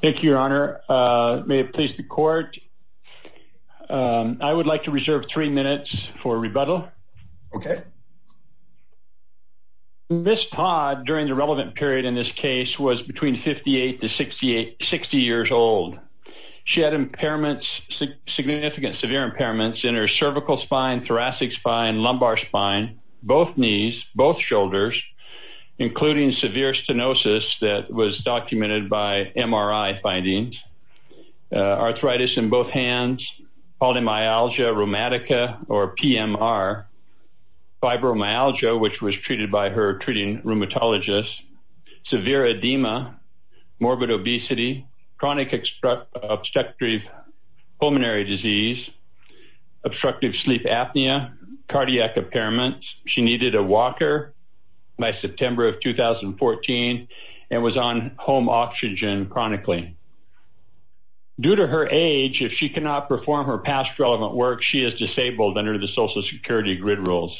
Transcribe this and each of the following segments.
thank you your honor may it please the court I would like to reserve three minutes for rebuttal okay miss Todd during the relevant period in this case was between 58 to 68 60 years old she had impairments significant severe impairments in her cervical spine thoracic spine lumbar spine both knees both shoulders including severe stenosis that was documented by MRI findings arthritis in both hands polymyalgia rheumatica or PMR fibromyalgia which was treated by her treating rheumatologist severe edema morbid obesity chronic obstructive pulmonary disease obstructive sleep apnea cardiac impairments she needed a walker by September of 2014 and was on home oxygen chronically due to her age if she cannot perform her past relevant work she is disabled under the Social Security grid rules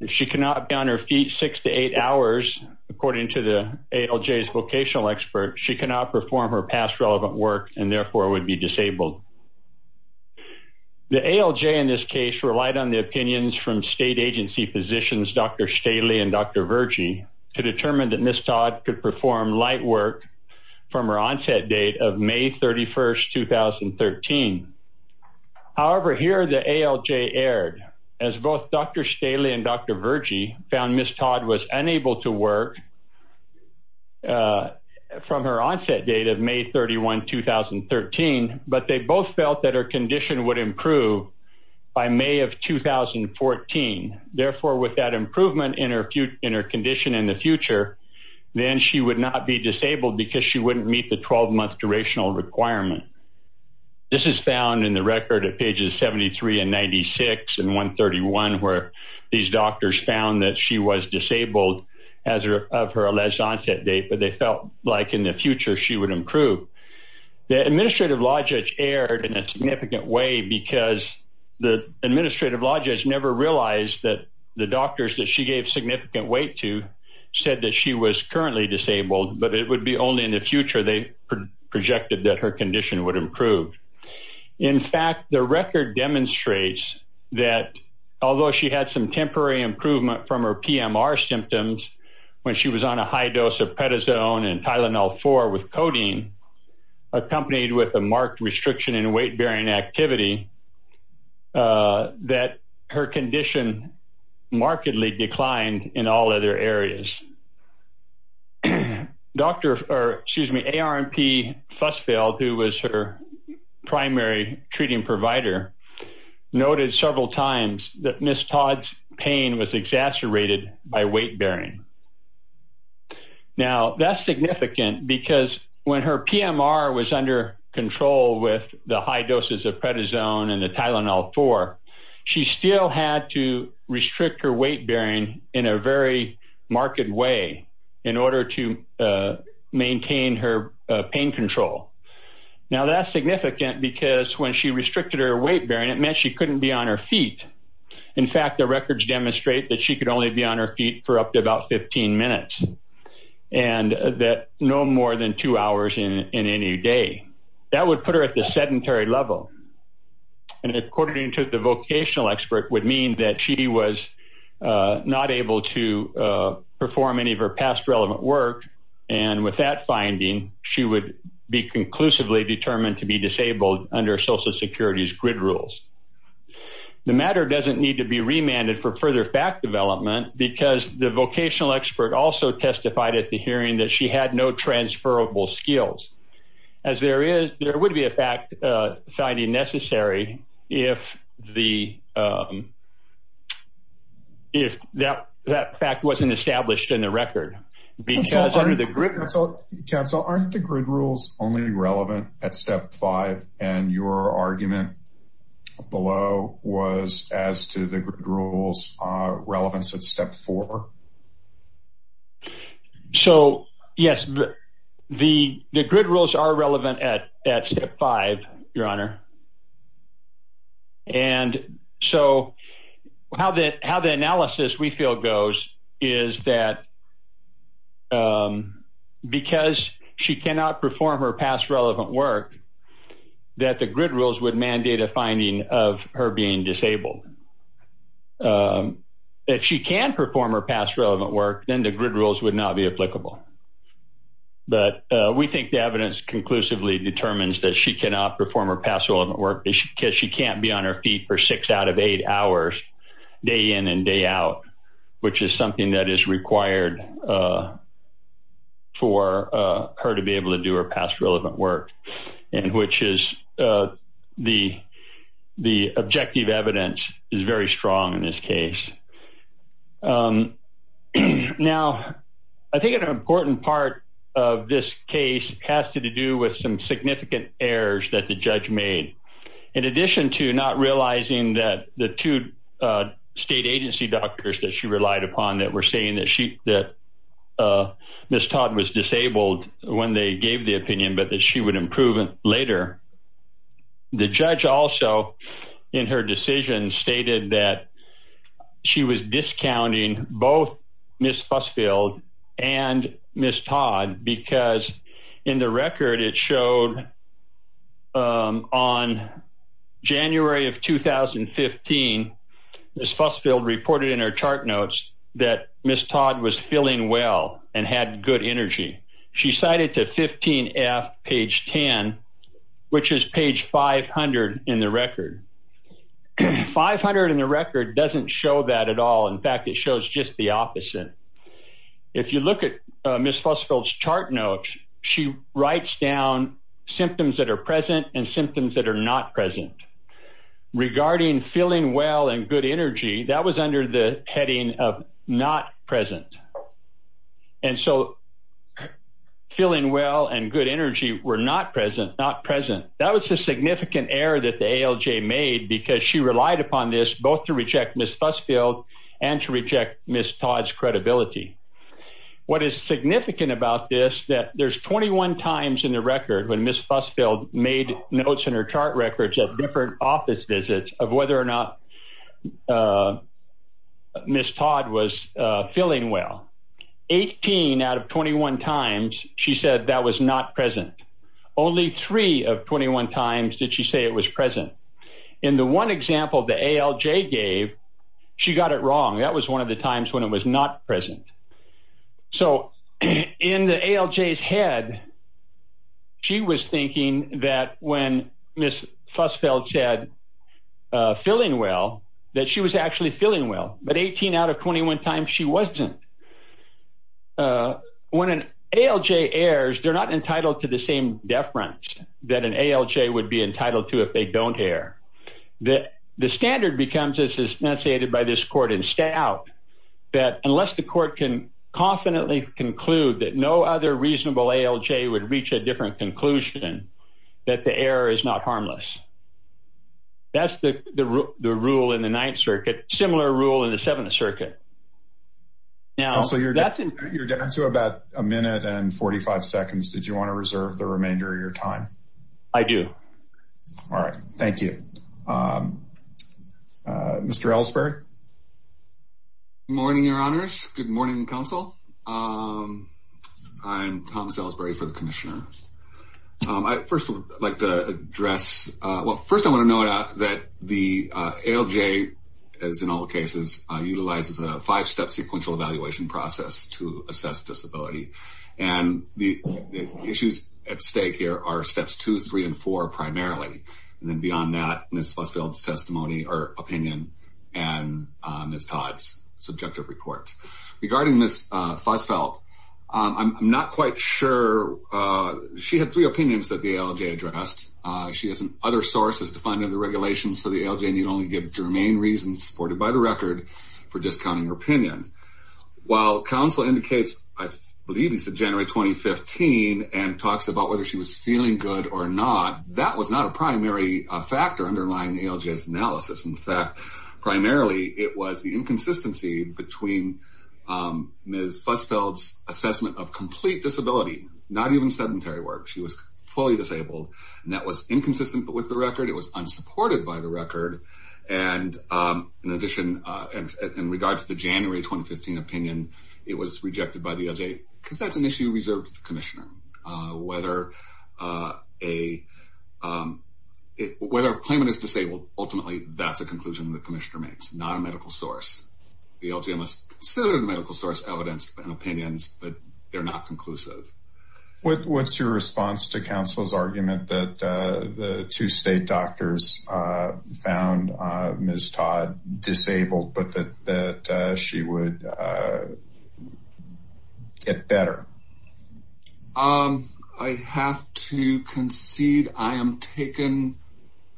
if she cannot be on her feet six to eight hours according to the ALJ's vocational expert she cannot perform her past relevant work and therefore would be disabled the ALJ in this case relied on the opinions from state agency positions dr. Staley and dr. Vergy to determine that miss Todd could perform light work from her onset date of May 31st 2013 however here the ALJ aired as both dr. Staley and dr. Vergy found miss Todd was unable to work from her onset date of May 31 2013 but they both felt that her condition would improve by May of 2014 therefore with that improvement in her in her condition in the future then she would not be disabled because she wouldn't meet the 12-month durational requirement this is found in the record at pages 73 and 96 and 131 where these doctors found that she was disabled as her of her alleged onset date but they felt like in the future she would improve the administrative logic aired in a significant way because the administrative logic has never realized that the doctors that she gave significant weight to said that she was currently disabled but it would be only in the future they projected that her condition would improve in fact the record demonstrates that although she had some temporary improvement from her PMR symptoms when she was on a high dose of prednisone and Tylenol 4 with codeine accompanied with a marked restriction in weight-bearing activity that her condition markedly declined in all other areas. Dr. excuse me ARMP Fussfeld who was her primary treating provider noted several times that miss Todd's pain was exacerbated by weight-bearing. Now that's significant because when her PMR was under control with the high doses of prednisone and the Tylenol 4 she still had to restrict her weight-bearing in a very marked way in order to maintain her pain control. Now that's significant because when she restricted her weight-bearing it meant she couldn't be on her feet in fact the records demonstrate that she could only be on her feet for up to about 15 minutes and that no more than two hours in any day. That would put her at the sedentary level and according to the vocational expert would mean that she was not able to perform any of her past relevant work and with that finding she would be conclusively determined to be disabled under Social Security's grid rules. The matter doesn't need to be back development because the vocational expert also testified at the hearing that she had no transferable skills. As there is there would be a fact finding necessary if the if that that fact wasn't established in the record because under the grid. Council aren't the grid rules only relevant at step five and your argument below was as to the rules relevance at step four. So yes the the grid rules are relevant at step five your honor and so how that how the analysis we feel goes is that because she cannot perform her past relevant work that the grid rules would mandate a finding of her being disabled. If she can perform her past relevant work then the grid rules would not be applicable. But we think the evidence conclusively determines that she cannot perform her past relevant work because she can't be on her feet for six out of eight hours day in and day out which is something that is required for her to be able to do her past relevant work and which is the the objective evidence is very strong in this case. Now I think an important part of this case has to do with some significant errors that the judge made. In addition to not realizing that the two state agency doctors that she relied upon that were saying that Miss Todd was disabled when they gave the opinion but that she would improve it later. The judge also in her decision stated that she was discounting both Miss Fussfield and Miss Todd because in the record it showed on January of 2015 Miss Fussfield reported in her chart notes that Miss Todd was feeling well and had good energy. She cited to 15 F page 10 which is page 500 in the record. 500 in the record doesn't show that at all in fact it shows just the opposite. If you look at Miss Fussfield's chart notes she writes down symptoms that are present. Regarding feeling well and good energy that was under the heading of not present and so feeling well and good energy were not present not present. That was a significant error that the ALJ made because she relied upon this both to reject Miss Fussfield and to reject Miss Todd's credibility. What is significant about this that there's 21 times in the record when Miss Fussfield notes in her chart records at different office visits of whether or not Miss Todd was feeling well. 18 out of 21 times she said that was not present. Only three of 21 times did she say it was present. In the one example the ALJ gave she got it wrong that was one of the times when it was not present. So in the ALJ's head she was thinking that when Miss Fussfield said feeling well that she was actually feeling well but 18 out of 21 times she wasn't. When an ALJ errs they're not entitled to the same deference that an ALJ would be entitled to if they don't err. The standard becomes as is enunciated by this court in Stout that unless the court can confidently conclude that no other reasonable ALJ would reach a different conclusion that the error is not harmless. That's the rule in the Ninth Circuit. Similar rule in the Seventh Circuit. Now so you're down to about a minute and 45 seconds. Did you want to reserve the remainder of your time? I do. All right. Thank you. Mr. Ellsberg? Morning your honors. Good morning counsel. I'm Thomas Ellsberg for the Commissioner. I first would like to address, well first I want to note out that the ALJ as in all cases utilizes a five-step sequential evaluation process to assess disability. And the issues at stake here are steps two, three, and four in Ms. Todd's subjective report. Regarding Ms. Fusfeld, I'm not quite sure she had three opinions that the ALJ addressed. She has other sources to find in the regulations so the ALJ need only give germane reasons supported by the record for discounting her opinion. While counsel indicates I believe it's the January 2015 and talks about whether she was feeling good or not, that was not a primary factor underlying the ALJ's analysis. In fact, primarily it was the inconsistency between Ms. Fusfeld's assessment of complete disability, not even sedentary work. She was fully disabled and that was inconsistent with the record. It was unsupported by the record. And in addition, in regards to the January 2015 opinion, it was rejected by the ALJ because that's an issue reserved to the Commissioner. Whether a claimant is disabled, ultimately that's a conclusion the Commissioner makes, not a medical source. The ALJ must consider the medical source evidence and opinions but they're not conclusive. What's your response to counsel's argument that the two state doctors found Ms. Todd disabled but that she would get better? I have to concede I am taken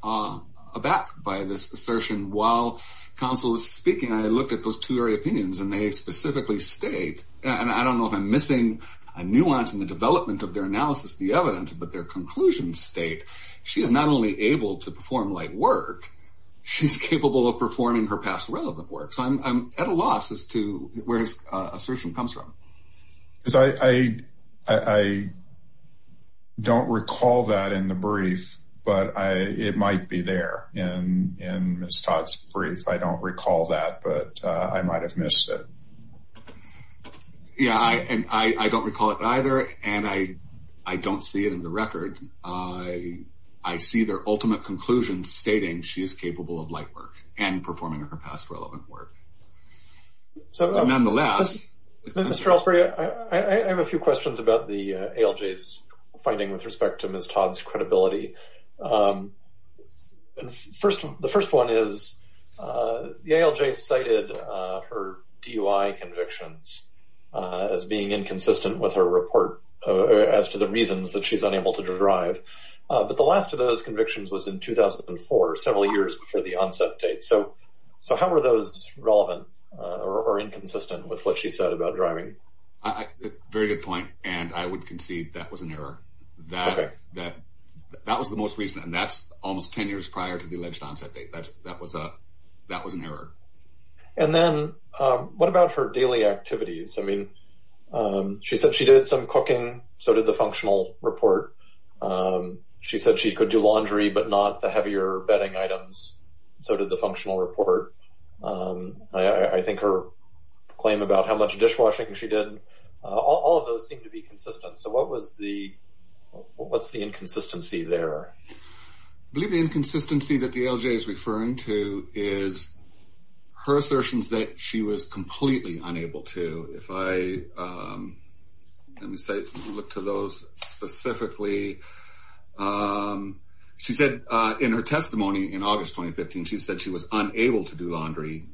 aback by this assertion. While counsel is speaking, I looked at those two very opinions and they specifically state, and I don't know if I'm missing a nuance in the development of their analysis, the evidence, but their conclusions state she is not only able to perform light work, she's capable of performing her past relevant work. So I'm at a loss as to where this assertion comes from. I don't recall that in the brief, but it might be there in Ms. Todd's brief. I don't recall that, but I might have missed it. Yeah, and I don't recall it and I see their ultimate conclusion stating she is capable of light work and performing her past relevant work. So nonetheless... Mr. Ellsbury, I have a few questions about the ALJ's finding with respect to Ms. Todd's credibility. The first one is the ALJ cited her DUI convictions as being inconsistent with her report as to the reasons that she's unable to drive, but the last of those convictions was in 2004, several years before the onset date. So how were those relevant or inconsistent with what she said about driving? Very good point, and I would concede that was an error. That was the most recent and that's almost 10 years prior to the alleged onset date. That was an error. And then what about her daily activities? I mean, she said she did some cooking, so did the functional report. She said she could do laundry, but not the heavier bedding items, so did the functional report. I think her claim about how much dishwashing she did, all of those seem to be consistent. So what was the... what's the inconsistency there? I believe the inconsistency that the ALJ is referring to is her assertions that she was completely unable to. If I look to those specifically, she said in her testimony in August 2015, she said she was unable to do laundry,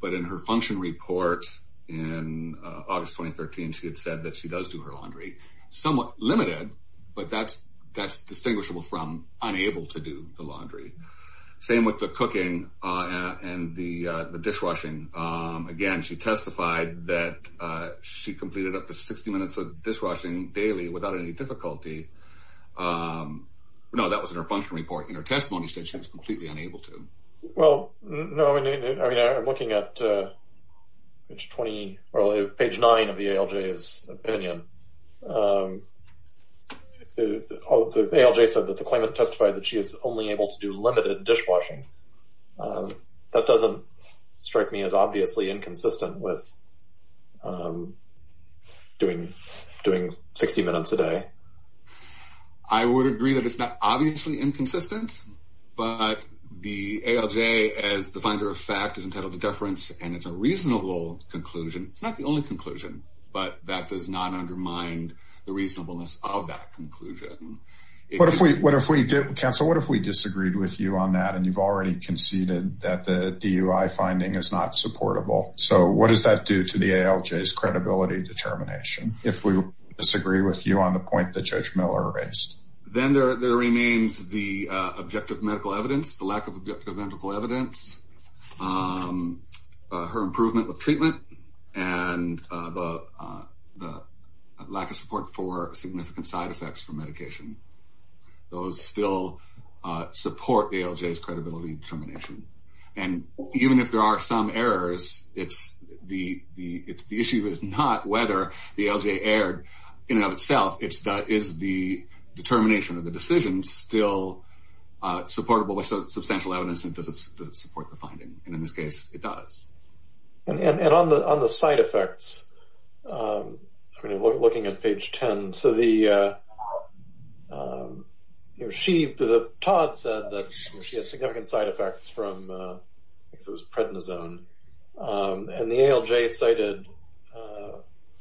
but in her function report in August 2013, she had said that she does do her laundry. Somewhat limited, but that's distinguishable from unable to do the laundry. Same with the cooking and the dishwashing. Again, she testified that she completed up to 60 minutes of dishwashing daily without any difficulty. No, that was in her functional report. In her testimony, she said she was completely unable to. Well, no, I mean, I'm looking at page 20, or page 9 of the ALJ's opinion. The ALJ said that the claimant testified that she is only able to do limited dishwashing. That doesn't strike me as obviously inconsistent with doing 60 minutes a day. I would agree that it's not obviously inconsistent, but the ALJ, as the finder of fact, is entitled to a reasonable conclusion. It's not the only conclusion, but that does not undermine the reasonableness of that conclusion. Council, what if we disagreed with you on that, and you've already conceded that the DUI finding is not supportable? So what does that do to the ALJ's credibility determination, if we disagree with you on the point that Judge Miller raised? Then there remains the objective medical evidence, the lack of treatment, and the lack of support for significant side effects from medication. Those still support the ALJ's credibility determination, and even if there are some errors, the issue is not whether the ALJ erred in and of itself, it's that is the determination of the decision still supportable with And on the side effects, looking at page 10, so the Todd said that she had significant side effects from, I think it was prednisone, and the ALJ cited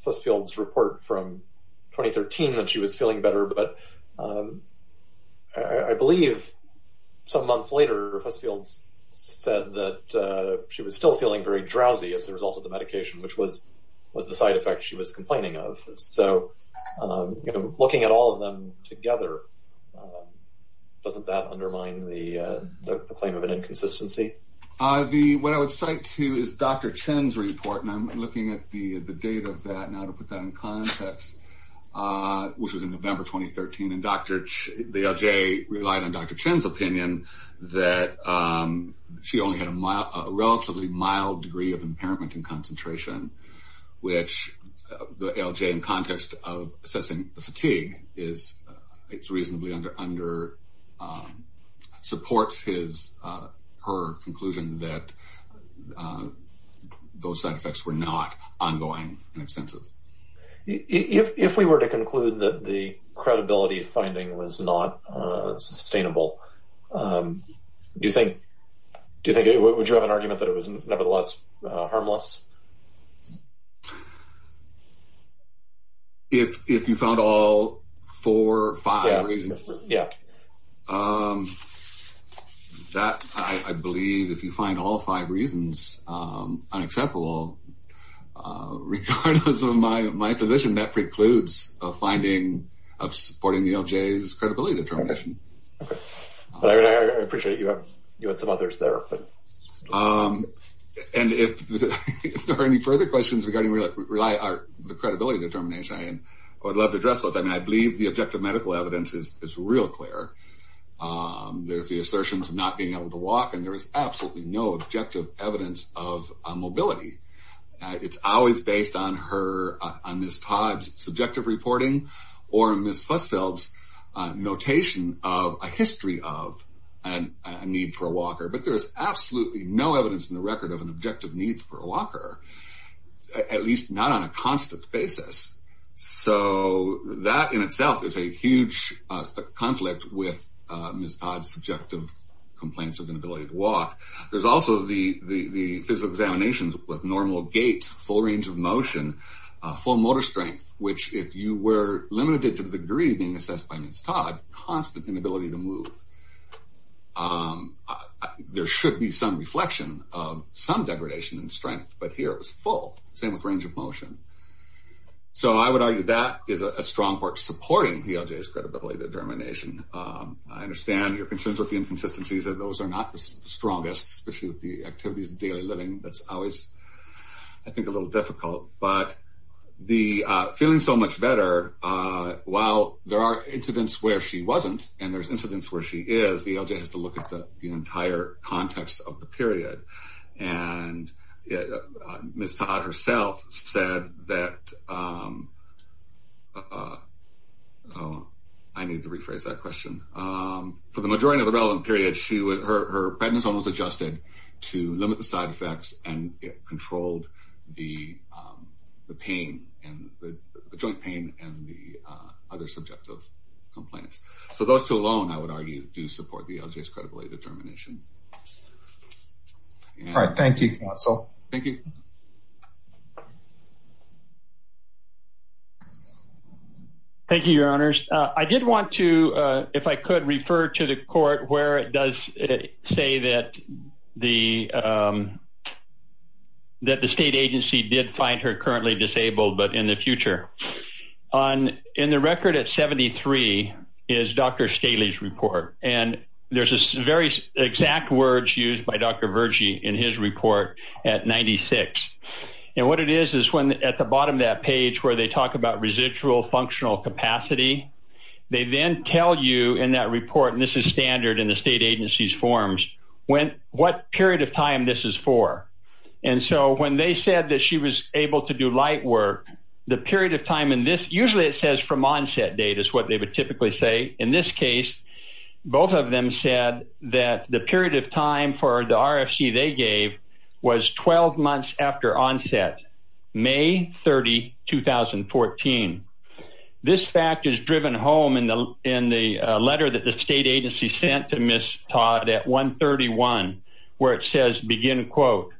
Fussfield's report from 2013 that she was feeling better, but I believe some months later, Fussfield's said that she was still feeling very drowsy as a result of the medication, which was the side effect she was complaining of. So, looking at all of them together, doesn't that undermine the claim of an inconsistency? What I would cite to you is Dr. Chen's report, and I'm looking at the date of that now to put that in context, which was in November 2013, and the ALJ relied on Dr. Chen's report that she only had a relatively mild degree of impairment in concentration, which the ALJ, in context of assessing the fatigue, it's reasonably under, supports her conclusion that those side effects were not ongoing and extensive. If we were to conclude that the credibility finding was not sustainable, do you think, would you have an argument that it was nevertheless harmless? If you found all four or five reasons, that, I believe, if you find all five reasons unacceptable, regardless of my position, that precludes a finding of supporting the ALJ's credibility determination. I appreciate you had some others there. And if there are any further questions regarding the credibility determination, I would love to address those. I mean, I believe the objective medical evidence is real clear. There's the assertions of not being able to walk, and there is absolutely no objective evidence of mobility. It's always based on Ms. Todd's subjective reporting or Ms. Fussfeld's notation of a history of a need for a walker, but there's absolutely no evidence in the record of an objective need for a walker, at least not on a constant basis. So that in itself is a huge conflict with Ms. Todd's subjective complaints of inability to walk. There's also the physical examinations with normal gait, full range of motion, full motor strength, which if you were limited to the degree being assessed by Ms. Todd, constant inability to move. There should be some reflection of some degradation in strength, but here it was full, same with range of motion. So I would argue that is a strong part supporting the ALJ's credibility determination. I understand your concerns with the inconsistencies, and those are not the strongest, especially with the activities of daily living. That's always, I think, a little difficult, but the feeling so much better, while there are incidents where she wasn't and there's incidents where she is, the ALJ has to look at the entire context of the period. Ms. Todd herself said that, I need to rephrase that question, for the majority of the relevant period, her prednisone was adjusted to limit the side effects and it controlled the joint pain and the other subjective complaints. So those two alone, I would argue, do support the ALJ's credibility determination. All right, thank you, counsel. Thank you. Thank you, your honors. I did want to, if I could, refer to the court where it does say that the state agency did find her currently disabled, but in the future. In the record at 73 is Dr. Staley's report, and there's very exact words used by Dr. Vergy in his report at 96. And what it is, is at the bottom of that page where they talk about residual functional capacity, they then tell you in that report, and this is standard in the state agency's forms, what period of time this is for. And so when they said that she was able to do light work, the period of time in this, usually it says from onset date is what they would typically say. In this case, both of them said that the period of time for the RFC they gave was 12 months after onset, May 30, 2014. This fact is driven home in the letter that the state agency sent to Ms. Todd at 131, where it says, begin quote,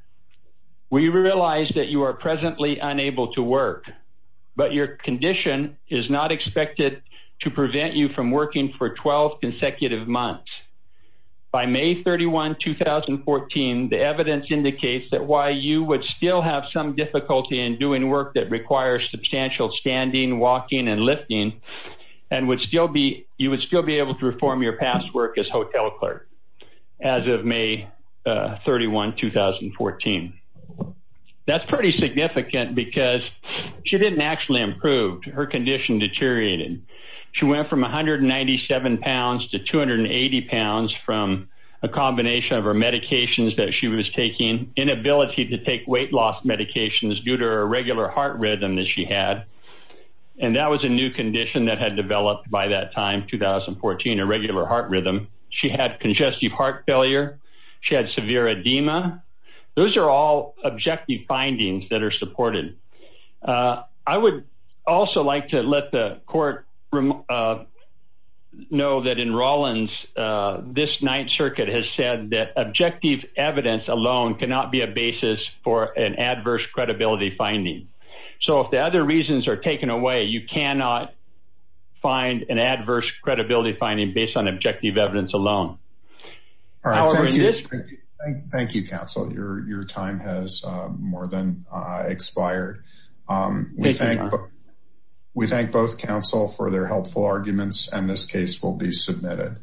we realize that you are presently unable to work, but your condition is not expected to prevent you from working for 12 consecutive months. By May 31, 2014, the evidence indicates that while you would still have some difficulty in doing work that requires substantial standing, walking, and lifting, and you would still be able to perform your past work as hotel clerk as of May 31, 2014. That's pretty significant because she didn't actually improve. Her condition deteriorated. She went from 197 pounds to 280 pounds from a combination of her medications that she was taking, inability to take weight loss medications due to her irregular heart rhythm that she had, and that was a new condition that had developed by that time, 2014, irregular heart rhythm. She had congestive heart failure. She had severe edema. Those are all objective findings that are supported. I would also like to let the court know that in Rawlins, this Ninth Circuit has said that objective evidence alone cannot be a basis for an adverse credibility finding. So if the other reasons are taken away, you cannot find an adverse credibility finding based on objective evidence alone. Thank you, counsel. Your time has more than expired. We thank both counsel for their helpful arguments, and this case will be submitted.